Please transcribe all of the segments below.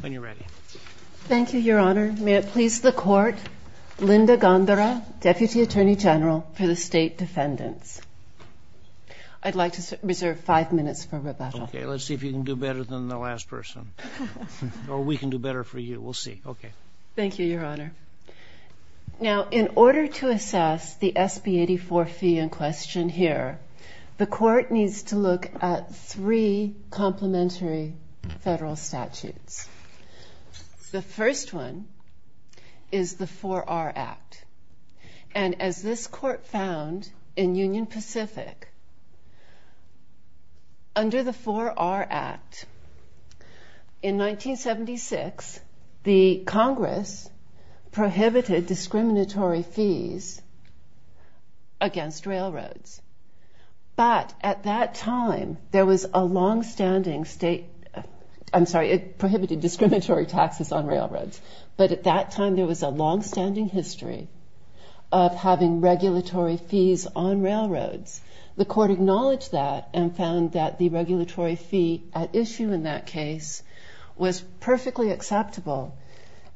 When you're ready. Thank you, Your Honor. May it please the Court, Linda Gondara, Deputy Attorney General for the State Defendants. I'd like to reserve five minutes for rebuttal. Okay, let's see if you can do better than the last person. Or we can do better for you. We'll see. Okay. Thank you, Your Honor. Now, in order to assess the SB-84 fee in question here, the Court needs to look at three complementary federal statutes. The first one is the 4R Act. And as this Court found in Union Pacific, under the 4R Act, in 1976, the Congress prohibited discriminatory fees against railroads. But at that time, there was a longstanding state... I'm sorry, it prohibited discriminatory taxes on railroads. But at that time, there was a longstanding history of having regulatory fees on railroads. The Court acknowledged that and found that the regulatory fee at issue in that case was perfectly acceptable.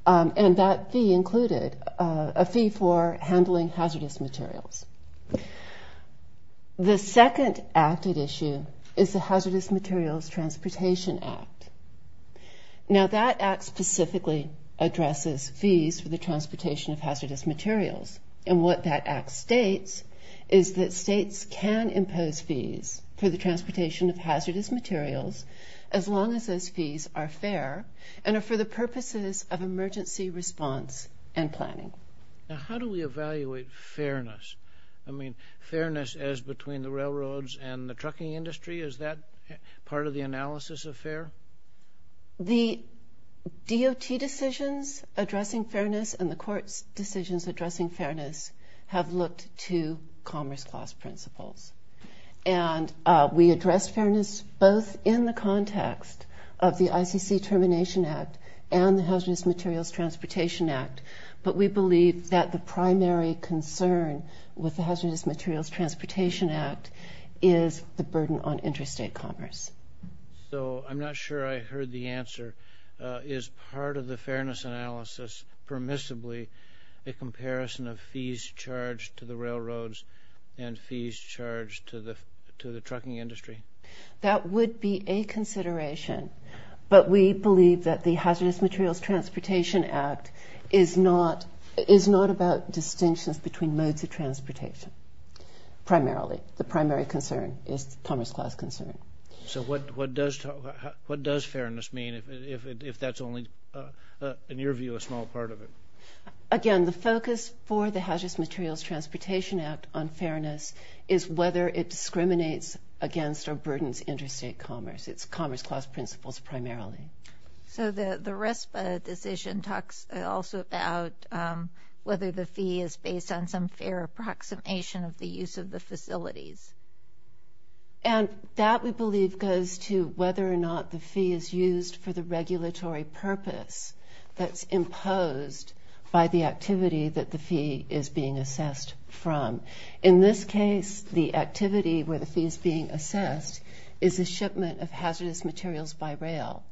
And that fee included a fee for handling hazardous materials. The second act at issue is the Hazardous Materials Transportation Act. Now, that act specifically addresses fees for the transportation of hazardous materials. And what that act states is that states can impose fees for the transportation of hazardous materials, as long as those fees are fair and are for the purposes of emergency response and planning. Now, how do we evaluate fairness? I mean, fairness as between the railroads and the trucking industry? Is that part of the analysis of fair? The DOT decisions addressing fairness and the Court's decisions addressing fairness have looked to commerce clause principles. And we address fairness both in the context of the ICC Termination Act and the Hazardous Materials Transportation Act. But we believe that the primary concern with the Hazardous Materials Transportation Act is the burden on interstate commerce. So I'm not sure I heard the answer. Is part of the fairness analysis permissibly a comparison of fees charged to the railroads and fees charged to the trucking industry? That would be a consideration. But we believe that the Hazardous Materials Transportation Act is not about distinctions between modes of transportation, primarily. The primary concern is commerce clause concern. So what does fairness mean if that's only, in your view, a small part of it? Again, the focus for the Hazardous Materials Transportation Act on fairness is whether it discriminates against or burdens interstate commerce. It's commerce clause principles, primarily. So the RESPA decision talks also about whether the fee is based on some fair approximation of the use of the facilities. And that, we believe, goes to whether or not the fee is used for the regulatory purpose that's imposed by the activity that the fee is being assessed from. In this case, the activity where the fee is being assessed is the shipment of hazardous materials by rail.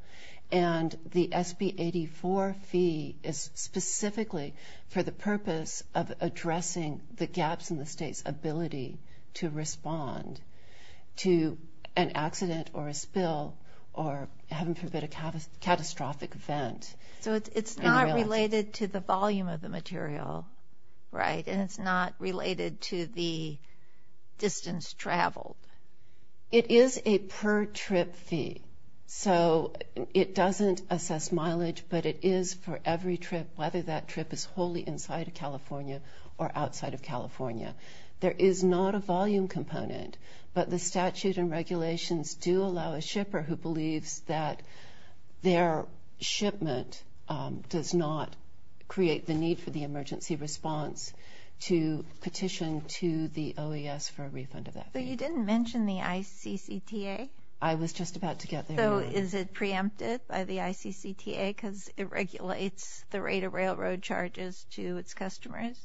And the SB84 fee is specifically for the purpose of addressing the gaps in the state's ability to respond to an accident or a spill or, heaven forbid, a catastrophic event. So it's not related to the volume of the material, right? And it's not related to the distance traveled. It is a per-trip fee. So it doesn't assess mileage, but it is for every trip, whether that trip is wholly inside of California or outside of California. There is not a volume component, but the statute and regulations do allow a shipper who believes that their shipment does not create the need for the emergency response to petition to the OAS for a refund of that fee. So you didn't mention the ICCTA? I was just about to get there. So is it preempted by the ICCTA because it regulates the rate of railroad charges to its customers?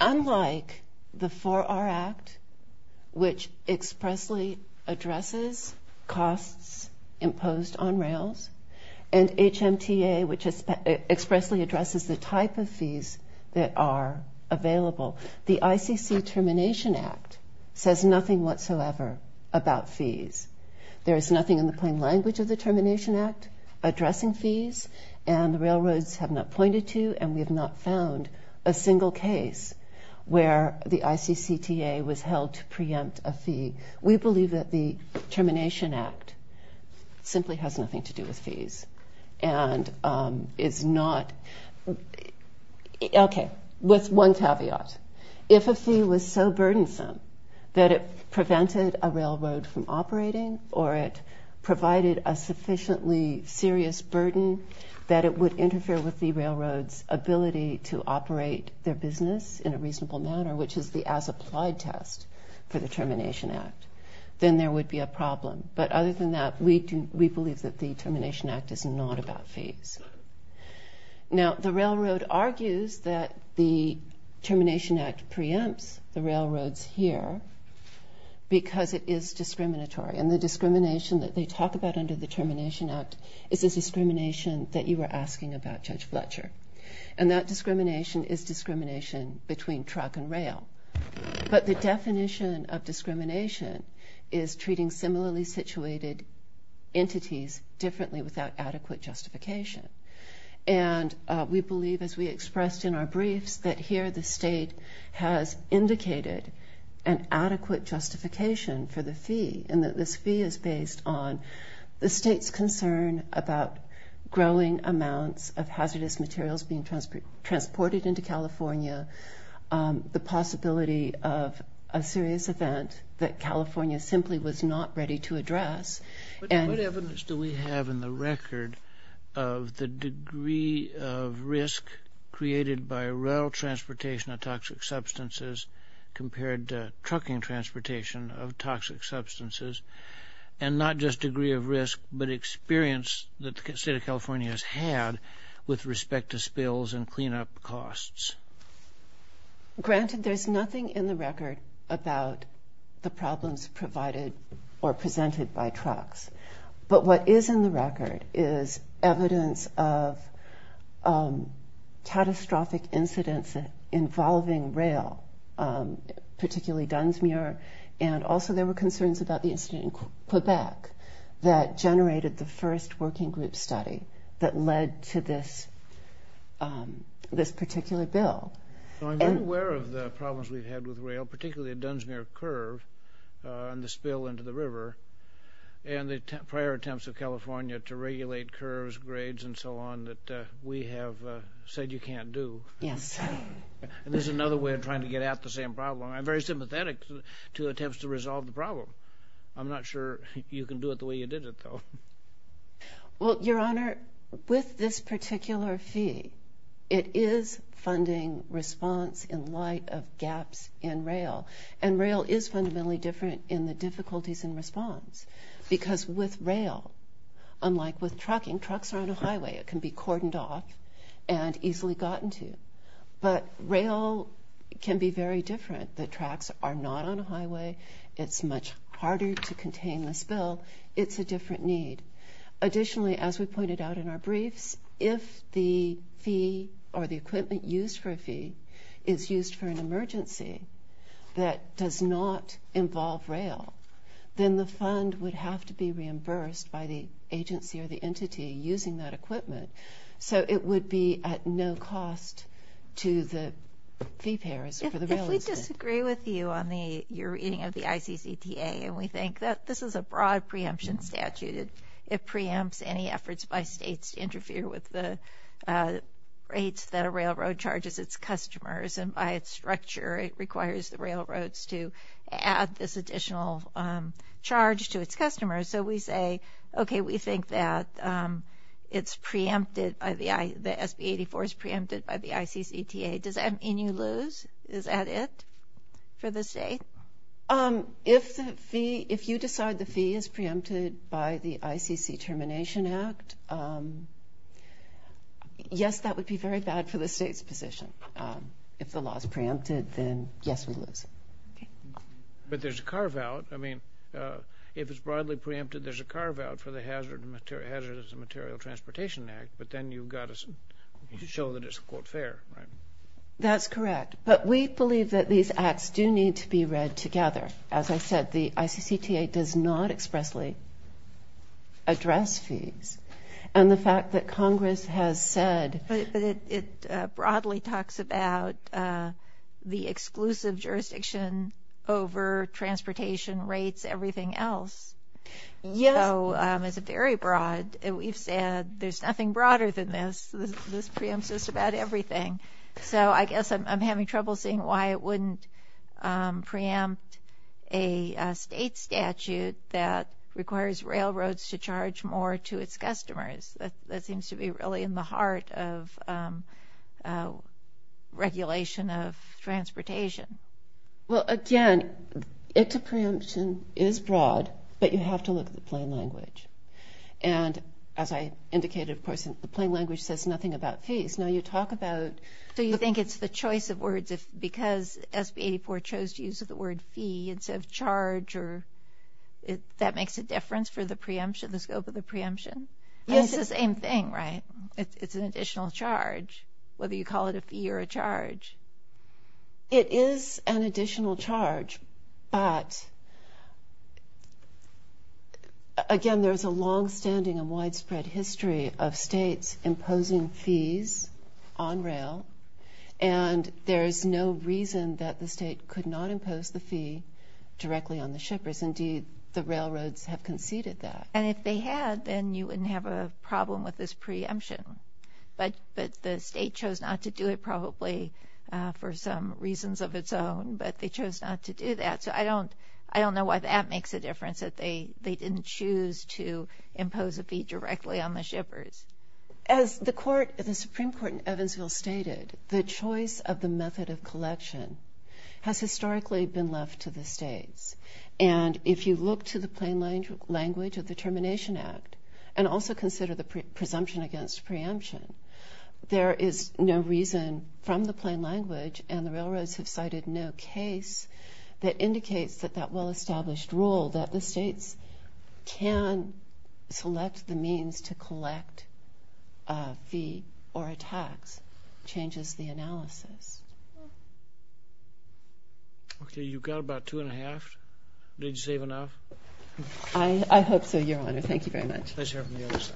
Unlike the 4R Act, which expressly addresses costs imposed on rails, and HMTA, which expressly addresses the type of fees that are available, the ICC Termination Act says nothing whatsoever about fees. There is nothing in the plain language of the Termination Act addressing fees, and the railroads have not pointed to and we have not found a single case where the ICCTA was held to preempt a fee. We believe that the Termination Act simply has nothing to do with fees and is not, okay, with one caveat. If a fee was so burdensome that it prevented a railroad from operating or it provided a sufficiently serious burden that it would interfere with the railroad's ability to operate their business in a reasonable manner, which is the as-applied test for the Termination Act, then there would be a problem. But other than that, we believe that the Termination Act is not about fees. Now, the railroad argues that the Termination Act preempts the railroads here because it is discriminatory. And the discrimination that they talk about under the Termination Act is the discrimination that you were asking about, Judge Fletcher. And that discrimination is discrimination between truck and rail. But the definition of discrimination is treating similarly situated entities differently without adequate justification. And we believe, as we expressed in our briefs, that here the state has indicated an adequate justification for the fee and that this fee is based on the state's concern about growing amounts of hazardous materials being transported into California, the possibility of a serious event that California simply was not ready to address. What evidence do we have in the record of the degree of risk created by rail transportation of toxic substances compared to trucking transportation of toxic substances, and not just degree of risk but experience that the state of California has had with respect to spills and cleanup costs? Granted, there's nothing in the record about the problems provided or presented by trucks. But what is in the record is evidence of catastrophic incidents involving rail, particularly Dunsmuir. And also there were concerns about the incident in Quebec that generated the first working group study that led to this particular bill. I'm very aware of the problems we've had with rail, particularly at Dunsmuir Curve and the spill into the river. And the prior attempts of California to regulate curves, grades, and so on that we have said you can't do. Yes. And this is another way of trying to get at the same problem. I'm very sympathetic to attempts to resolve the problem. I'm not sure you can do it the way you did it, though. Well, Your Honor, with this particular fee, it is funding response in light of gaps in rail. And rail is fundamentally different in the difficulties in response because with rail, unlike with trucking, trucks are on a highway. It can be cordoned off and easily gotten to. But rail can be very different. The tracks are not on a highway. It's much harder to contain the spill. It's a different need. Additionally, as we pointed out in our briefs, if the fee or the equipment used for a fee is used for an emergency, that does not involve rail, then the fund would have to be reimbursed by the agency or the entity using that equipment. So it would be at no cost to the fee payers for the rail system. If we disagree with you on your reading of the ICCTA and we think that this is a broad preemption statute, it preempts any efforts by states to interfere with the rates that a railroad charges its customers, and by its structure it requires the railroads to add this additional charge to its customers. So we say, okay, we think that it's preempted, the SB84 is preempted by the ICCTA. Does that mean you lose? Is that it for the state? If you decide the fee is preempted by the ICC Termination Act, yes, that would be very bad for the state's position. If the law is preempted, then yes, we lose. But there's a carve-out. I mean, if it's broadly preempted, there's a carve-out for the Hazardous Material Transportation Act, but then you've got to show that it's, quote, fair, right? That's correct. But we believe that these acts do need to be read together. As I said, the ICCTA does not expressly address fees. And the fact that Congress has said- But it broadly talks about the exclusive jurisdiction over transportation rates, everything else. Yes. So it's very broad. We've said there's nothing broader than this. This preempts just about everything. So I guess I'm having trouble seeing why it wouldn't preempt a state statute that requires railroads to charge more to its customers. That seems to be really in the heart of regulation of transportation. Well, again, ICCTA preemption is broad, but you have to look at the plain language. And as I indicated, of course, the plain language says nothing about fees. Now you talk about- So you think it's the choice of words, because SB 84 chose to use the word fee instead of charge, or that makes a difference for the scope of the preemption? It's the same thing, right? It's an additional charge, whether you call it a fee or a charge. It is an additional charge, but, again, there's a longstanding and widespread history of states imposing fees on rail, and there's no reason that the state could not impose the fee directly on the shippers. Indeed, the railroads have conceded that. And if they had, then you wouldn't have a problem with this preemption. But the state chose not to do it, probably for some reasons of its own, but they chose not to do that. So I don't know why that makes a difference, that they didn't choose to impose a fee directly on the shippers. As the Supreme Court in Evansville stated, the choice of the method of collection has historically been left to the states. And if you look to the plain language of the Termination Act and also consider the presumption against preemption, there is no reason from the plain language, and the railroads have cited no case that indicates that that well-established rule, that the states can select the means to collect a fee or a tax, changes the analysis. Okay, you've got about two and a half. Did you save enough? I hope so, Your Honor. Thank you very much. Let's hear from the other side.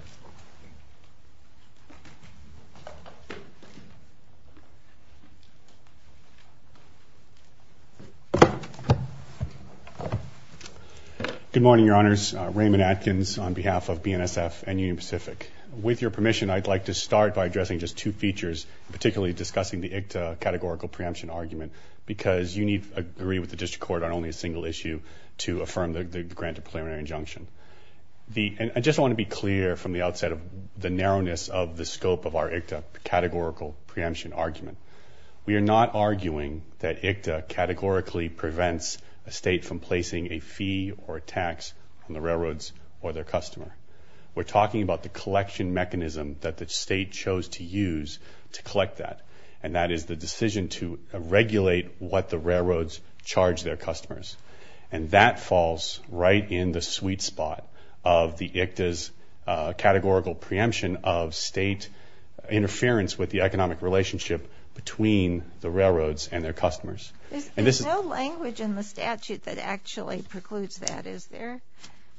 Good morning, Your Honors. Raymond Atkins on behalf of BNSF and Union Pacific. With your permission, I'd like to start by addressing just two features, particularly discussing the ICTA categorical preemption argument, because you need to agree with the district court on only a single issue to affirm the granted preliminary injunction. I just want to be clear from the outset of the narrowness of the scope of our ICTA categorical preemption argument. We are not arguing that ICTA categorically prevents a state from placing a fee or a tax on the railroads or their customer. We're talking about the collection mechanism that the state chose to use to collect that, and that is the decision to regulate what the railroads charge their customers. And that falls right in the sweet spot of the ICTA's categorical preemption of state interference with the economic relationship between the railroads and their customers. There's no language in the statute that actually precludes that, is there?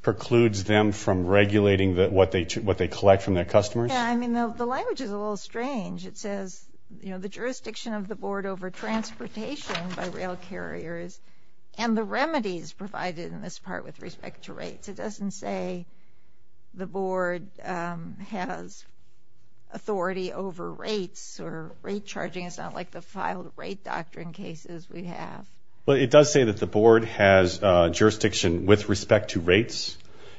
Precludes them from regulating what they collect from their customers? Yeah, I mean, the language is a little strange. It says, you know, the jurisdiction of the board over transportation by rail carriers and the remedies provided in this part with respect to rates. It doesn't say the board has authority over rates or rate charging. It's not like the filed rate doctrine cases we have. Well, it does say that the board has jurisdiction with respect to rates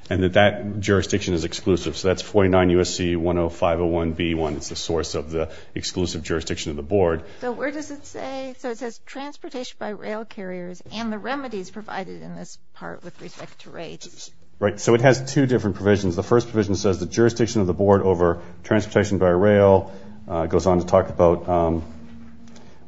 and that that jurisdiction is exclusive. So that's 49 U.S.C. 10501B1. It's the source of the exclusive jurisdiction of the board. So where does it say? It says transportation by rail carriers and the remedies provided in this part with respect to rates. Right, so it has two different provisions. The first provision says the jurisdiction of the board over transportation by rail. It goes on to talk about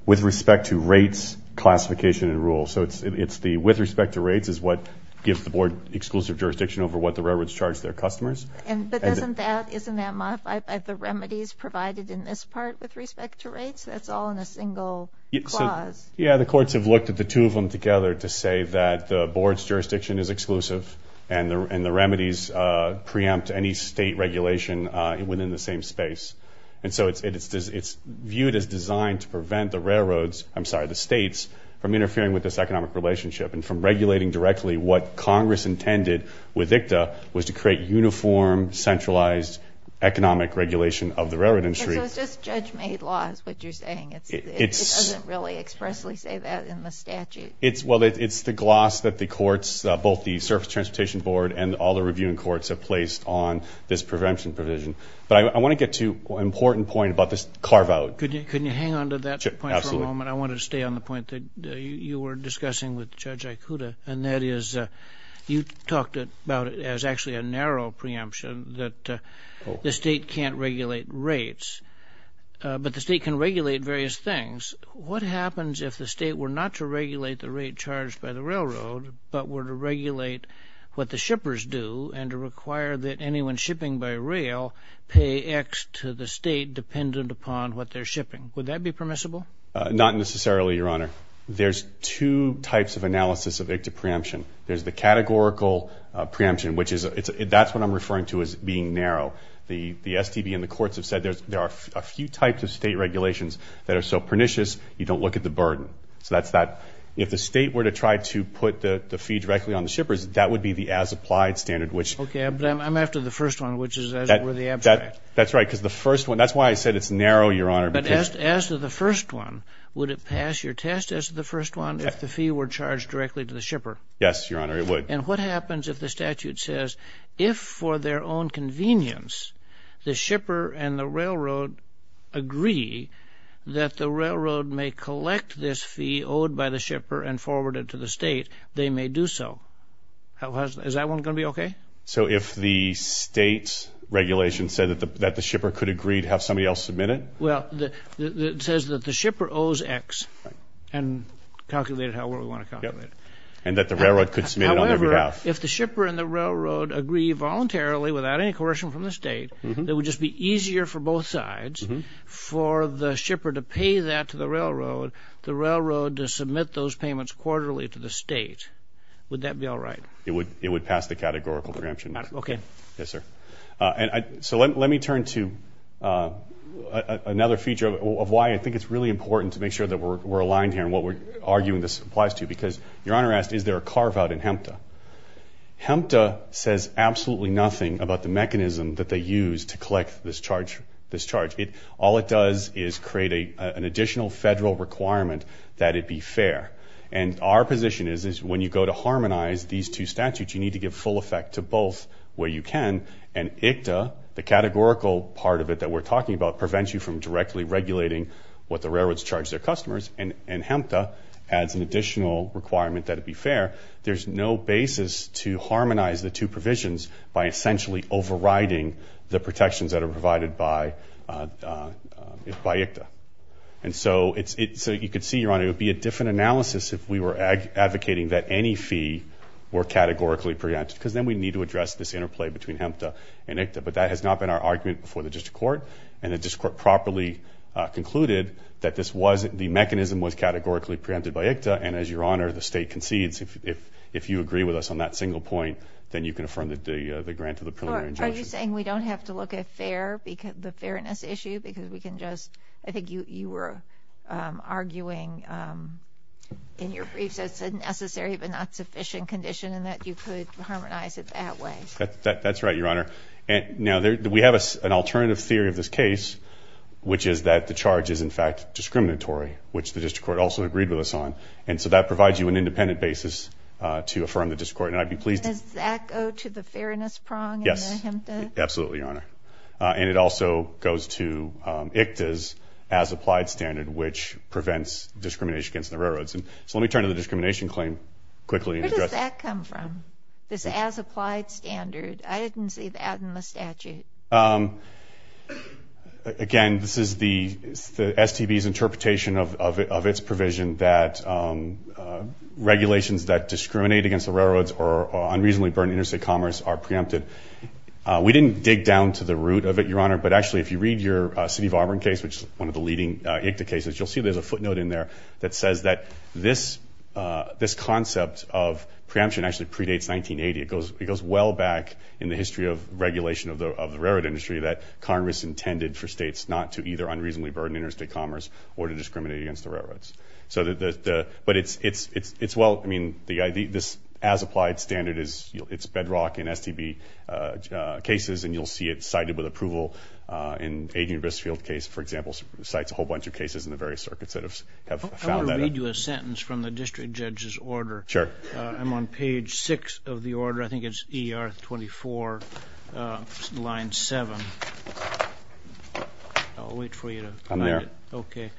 with respect to rates classification and rule. So it's the with respect to rates is what gives the board exclusive jurisdiction over what the railroads charge their customers. But isn't that modified by the remedies provided in this part with respect to rates? That's all in a single clause. Yeah, the courts have looked at the two of them together to say that the board's jurisdiction is exclusive and the remedies preempt any state regulation within the same space. And so it's viewed as designed to prevent the railroads, I'm sorry, the states from interfering with this economic relationship and from regulating directly what Congress intended with ICTA was to create uniform centralized economic regulation of the railroad industry. So it's just judge-made law is what you're saying. It doesn't really expressly say that in the statute. Well, it's the gloss that the courts, both the Surface Transportation Board and all the reviewing courts have placed on this prevention provision. But I want to get to an important point about this carve-out. Could you hang on to that point for a moment? I wanted to stay on the point that you were discussing with Judge Ikuda, and that is you talked about it as actually a narrow preemption that the state can't regulate rates, but the state can regulate various things. What happens if the state were not to regulate the rate charged by the railroad but were to regulate what the shippers do and to require that anyone shipping by rail pay X to the state dependent upon what they're shipping? Would that be permissible? Not necessarily, Your Honor. There's two types of analysis of ICTA preemption. There's the categorical preemption, which is that's what I'm referring to as being narrow. The STB and the courts have said there are a few types of state regulations that are so pernicious you don't look at the burden. So that's that. If the state were to try to put the fee directly on the shippers, that would be the as-applied standard. Okay, but I'm after the first one, which is as it were the abstract. That's right, because the first one, that's why I said it's narrow, Your Honor. But as to the first one, would it pass your test as to the first one if the fee were charged directly to the shipper? Yes, Your Honor, it would. And what happens if the statute says, if for their own convenience the shipper and the railroad agree that the railroad may collect this fee owed by the shipper and forward it to the state, they may do so. Is that one going to be okay? So if the state's regulation said that the shipper could agree to have somebody else submit it? Well, it says that the shipper owes X and calculate it however we want to calculate it. And that the railroad could submit it on their behalf. However, if the shipper and the railroad agree voluntarily, without any coercion from the state, it would just be easier for both sides for the shipper to pay that to the railroad, the railroad to submit those payments quarterly to the state. Would that be all right? It would pass the categorical preemption. Okay. Yes, sir. So let me turn to another feature of why I think it's really important to make sure that we're aligned here and what we're arguing this applies to, because Your Honor asked is there a carve-out in HMTA. HMTA says absolutely nothing about the mechanism that they use to collect this charge. All it does is create an additional federal requirement that it be fair. And our position is when you go to harmonize these two statutes, you need to give full effect to both where you can. And ICTA, the categorical part of it that we're talking about, prevents you from directly regulating what the railroads charge their customers. And HMTA adds an additional requirement that it be fair. There's no basis to harmonize the two provisions by essentially overriding the protections that are provided by ICTA. And so you could see, Your Honor, it would be a different analysis if we were advocating that any fee were categorically preempted, because then we'd need to address this interplay between HMTA and ICTA. But that has not been our argument before the district court. And the district court properly concluded that the mechanism was categorically preempted by ICTA. And as Your Honor, the State concedes, if you agree with us on that single point, then you can affirm the grant of the preliminary injunction. Are you saying we don't have to look at the fairness issue? Because I think you were arguing in your briefs that it's a necessary but not sufficient condition and that you could harmonize it that way. That's right, Your Honor. Now, we have an alternative theory of this case, which is that the charge is, in fact, discriminatory, which the district court also agreed with us on. And so that provides you an independent basis to affirm the district court. Does that go to the fairness prong in the HMTA? Yes, absolutely, Your Honor. And it also goes to ICTA's as-applied standard, which prevents discrimination against the railroads. So let me turn to the discrimination claim quickly. Where does that come from, this as-applied standard? I didn't see that in the statute. Again, this is the STB's interpretation of its provision that regulations that discriminate against the railroads or unreasonably burden interstate commerce are preempted. We didn't dig down to the root of it, Your Honor, but actually if you read your City of Auburn case, which is one of the leading ICTA cases, you'll see there's a footnote in there that says that this concept of preemption actually predates 1980. It goes well back in the history of regulation of the railroad industry that Congress intended for states not to either unreasonably burden interstate commerce or to discriminate against the railroads. But it's well, I mean, this as-applied standard, it's bedrock in STB cases, and you'll see it cited with approval. In Adrian Grisfield's case, for example, it cites a whole bunch of cases in the various circuits that have found that. I want to read you a sentence from the district judge's order. Sure. I'm on page 6 of the order. I think it's ER 24, line 7. I'll wait for you to find it. I'm there. Okay.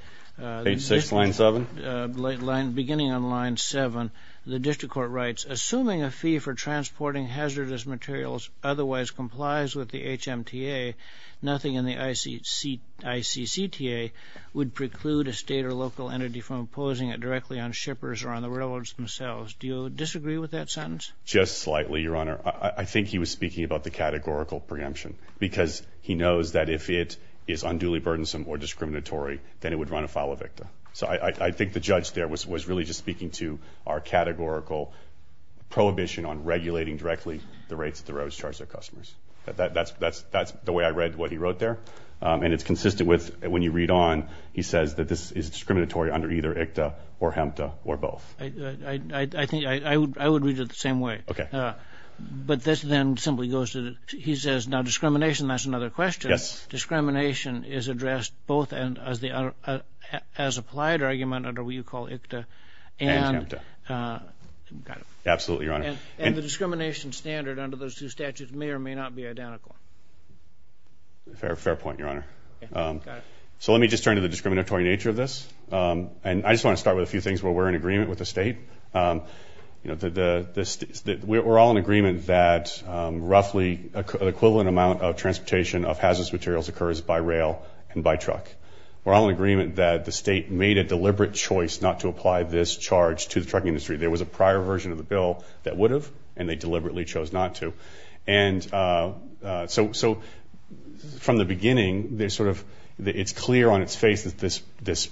Page 6, line 7. Beginning on line 7, the district court writes, Assuming a fee for transporting hazardous materials otherwise complies with the HMTA, nothing in the ICCTA would preclude a state or local entity from imposing it directly on shippers or on the railroads themselves. Do you disagree with that sentence? Just slightly, Your Honor. I think he was speaking about the categorical preemption because he knows that if it is unduly burdensome or discriminatory, then it would run afoul of ICTA. So I think the judge there was really just speaking to our categorical prohibition on regulating directly the rates that the railroads charge their customers. That's the way I read what he wrote there. And it's consistent with when you read on, he says that this is discriminatory under either ICTA or HMTA or both. I would read it the same way. Okay. But this then simply goes to, he says, now discrimination, that's another question. Yes. Discrimination is addressed both as applied argument under what you call ICTA and HMTA. Absolutely, Your Honor. And the discrimination standard under those two statutes may or may not be identical. Fair point, Your Honor. Got it. So let me just turn to the discriminatory nature of this. And I just want to start with a few things where we're in agreement with the state. We're all in agreement that roughly an equivalent amount of transportation of hazardous materials occurs by rail and by truck. We're all in agreement that the state made a deliberate choice not to apply this charge to the truck industry. There was a prior version of the bill that would have, and they deliberately chose not to. And so from the beginning, it's clear on its face that this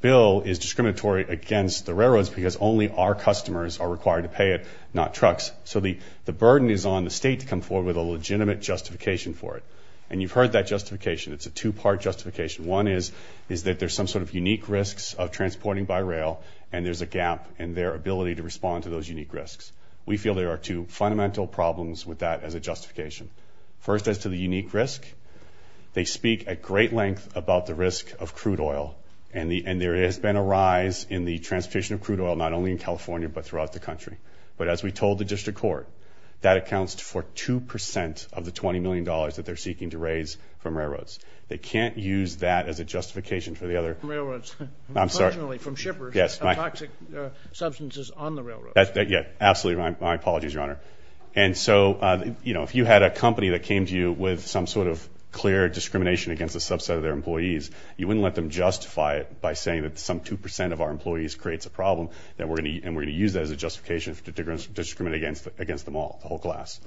bill is discriminatory against the railroads because only our customers are required to pay it, not trucks. So the burden is on the state to come forward with a legitimate justification for it. And you've heard that justification. It's a two-part justification. One is that there's some sort of unique risks of transporting by rail, and there's a gap in their ability to respond to those unique risks. We feel there are two fundamental problems with that as a justification. First is to the unique risk. They speak at great length about the risk of crude oil, and there has been a rise in the transportation of crude oil not only in California but throughout the country. But as we told the district court, that accounts for 2% of the $20 million that they're seeking to raise from railroads. They can't use that as a justification for the other. I'm sorry. Absolutely. My apologies, Your Honor. And so, you know, if you had a company that came to you with some sort of clear discrimination against a subset of their employees, you wouldn't let them justify it by saying that some 2% of our employees creates a problem, and we're going to use that as a justification to discriminate against them all, the whole class.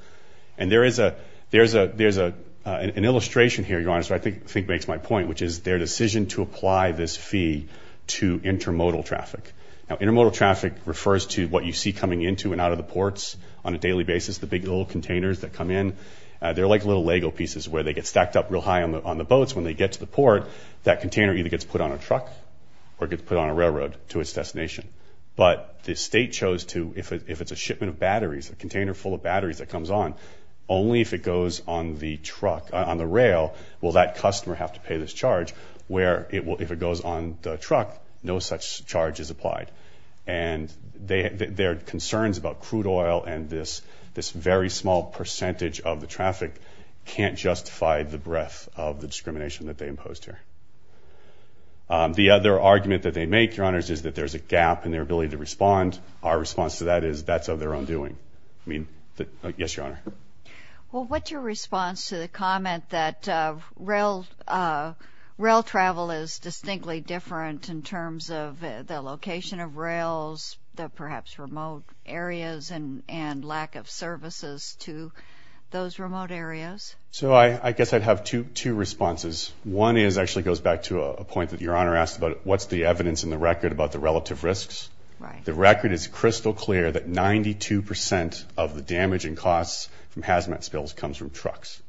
And there is an illustration here, Your Honor, which I think makes my point, which is their decision to apply this fee to intermodal traffic. Now, intermodal traffic refers to what you see coming into and out of the ports on a daily basis, the big little containers that come in. They're like little Lego pieces where they get stacked up real high on the boats. When they get to the port, that container either gets put on a truck or gets put on a railroad to its destination. But the state chose to, if it's a shipment of batteries, a container full of batteries that comes on, only if it goes on the rail will that customer have to pay this charge, where if it goes on the truck, no such charge is applied. And their concerns about crude oil and this very small percentage of the traffic can't justify the breadth of the discrimination that they imposed here. The other argument that they make, Your Honors, is that there's a gap in their ability to respond. Our response to that is that's of their own doing. Yes, Your Honor. Well, what's your response to the comment that rail travel is distinctly different in terms of the location of rails, the perhaps remote areas, and lack of services to those remote areas? So I guess I'd have two responses. One actually goes back to a point that Your Honor asked about what's the evidence in the record about the relative risks. Right. The record is crystal clear that 92 percent of the damage and costs from hazmat spills comes from trucks.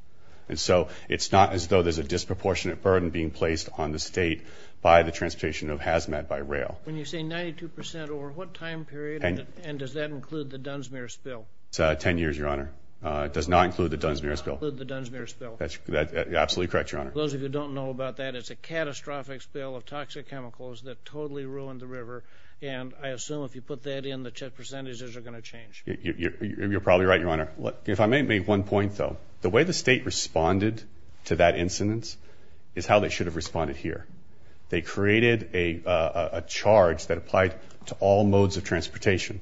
And so it's not as though there's a disproportionate burden being placed on the state by the transportation of hazmat by rail. When you say 92 percent, over what time period, and does that include the Dunsmuir spill? Ten years, Your Honor. It does not include the Dunsmuir spill. It does not include the Dunsmuir spill. That's absolutely correct, Your Honor. For those of you who don't know about that, it's a catastrophic spill of toxic chemicals that totally ruined the river. And I assume if you put that in, the percentages are going to change. You're probably right, Your Honor. If I may make one point, though, the way the state responded to that incident is how they should have responded here. They created a charge that applied to all modes of transportation,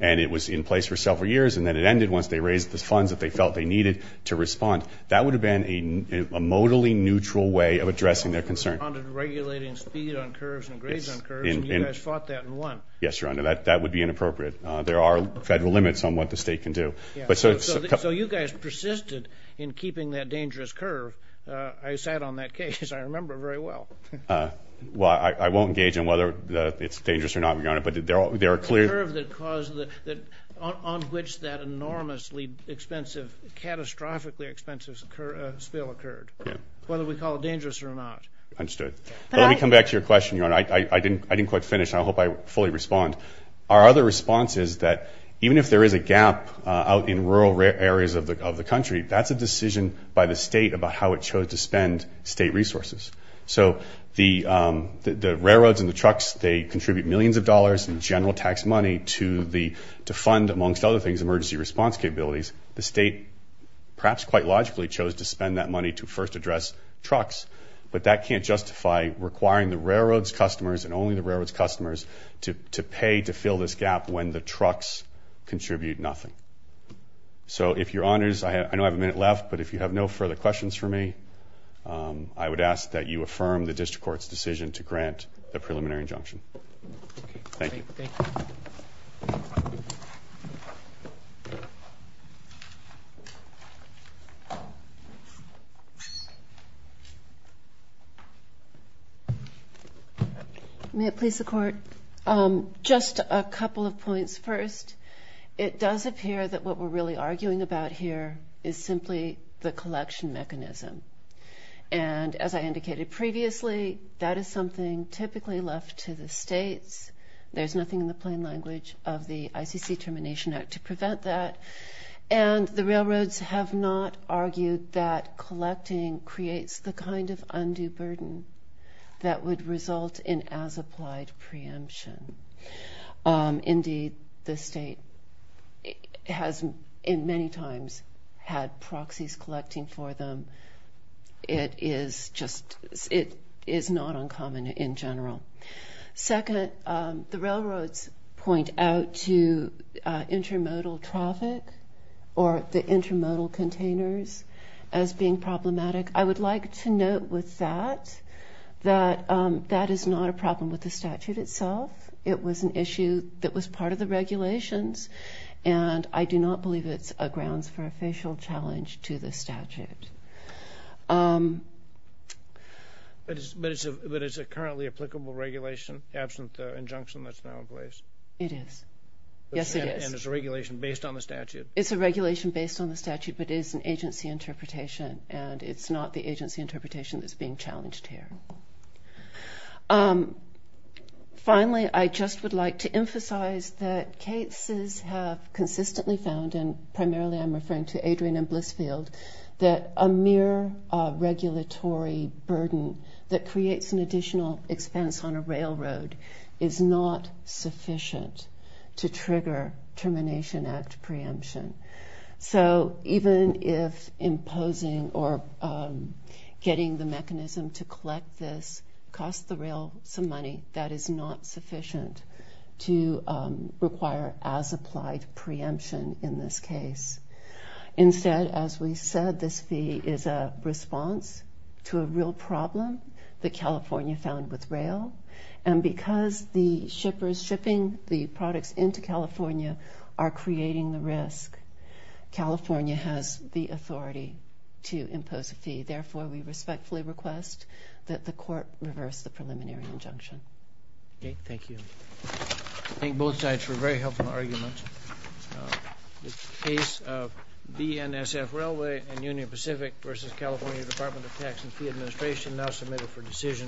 and it was in place for several years, and then it ended once they raised the funds that they felt they needed to respond. That would have been a modally neutral way of addressing their concern. They responded regulating speed on curves and grades on curves, and you guys fought that and won. Yes, Your Honor. That would be inappropriate. There are federal limits on what the state can do. So you guys persisted in keeping that dangerous curve. I sat on that case. I remember it very well. Well, I won't engage on whether it's dangerous or not, Your Honor, but there are clear – The curve on which that enormously expensive, catastrophically expensive spill occurred, whether we call it dangerous or not. Understood. But let me come back to your question, Your Honor. I didn't quite finish, and I hope I fully respond. Our other response is that even if there is a gap out in rural areas of the country, that's a decision by the state about how it chose to spend state resources. So the railroads and the trucks, they contribute millions of dollars in general tax money to fund, amongst other things, emergency response capabilities. The state perhaps quite logically chose to spend that money to first address trucks. But that can't justify requiring the railroad's customers and only the railroad's customers to pay to fill this gap when the trucks contribute nothing. So if Your Honors, I know I have a minute left, but if you have no further questions for me, I would ask that you affirm the district court's decision to grant the preliminary injunction. Thank you. Thank you. May it please the Court? Just a couple of points. First, it does appear that what we're really arguing about here is simply the collection mechanism. And as I indicated previously, that is something typically left to the states. There's nothing in the plain language of the ICC Termination Act to prevent that. And the railroads have not argued that collecting creates the kind of undue burden that would result in as-applied preemption. Indeed, the state has many times had proxies collecting for them. It is not uncommon in general. Second, the railroads point out to intermodal traffic or the intermodal containers as being problematic. I would like to note with that that that is not a problem with the statute itself. It was an issue that was part of the regulations, and I do not believe it's a grounds for official challenge to the statute. But it's a currently applicable regulation, absent the injunction that's now in place? It is. Yes, it is. And it's a regulation based on the statute? It's a regulation based on the statute, but it is an agency interpretation, and it's not the agency interpretation that's being challenged here. Finally, I just would like to emphasize that cases have consistently found, and primarily I'm referring to Adrian and Blissfield, that a mere regulatory burden that creates an additional expense on a railroad is not sufficient to trigger Termination Act preemption. So even if imposing or getting the mechanism to collect this costs the rail some money, that is not sufficient to require as applied preemption in this case. Instead, as we said, this fee is a response to a real problem that California found with rail, and because the shippers shipping the products into California are creating the risk, California has the authority to impose a fee. Therefore, we respectfully request that the court reverse the preliminary injunction. Okay. Thank you. I thank both sides for a very helpful argument.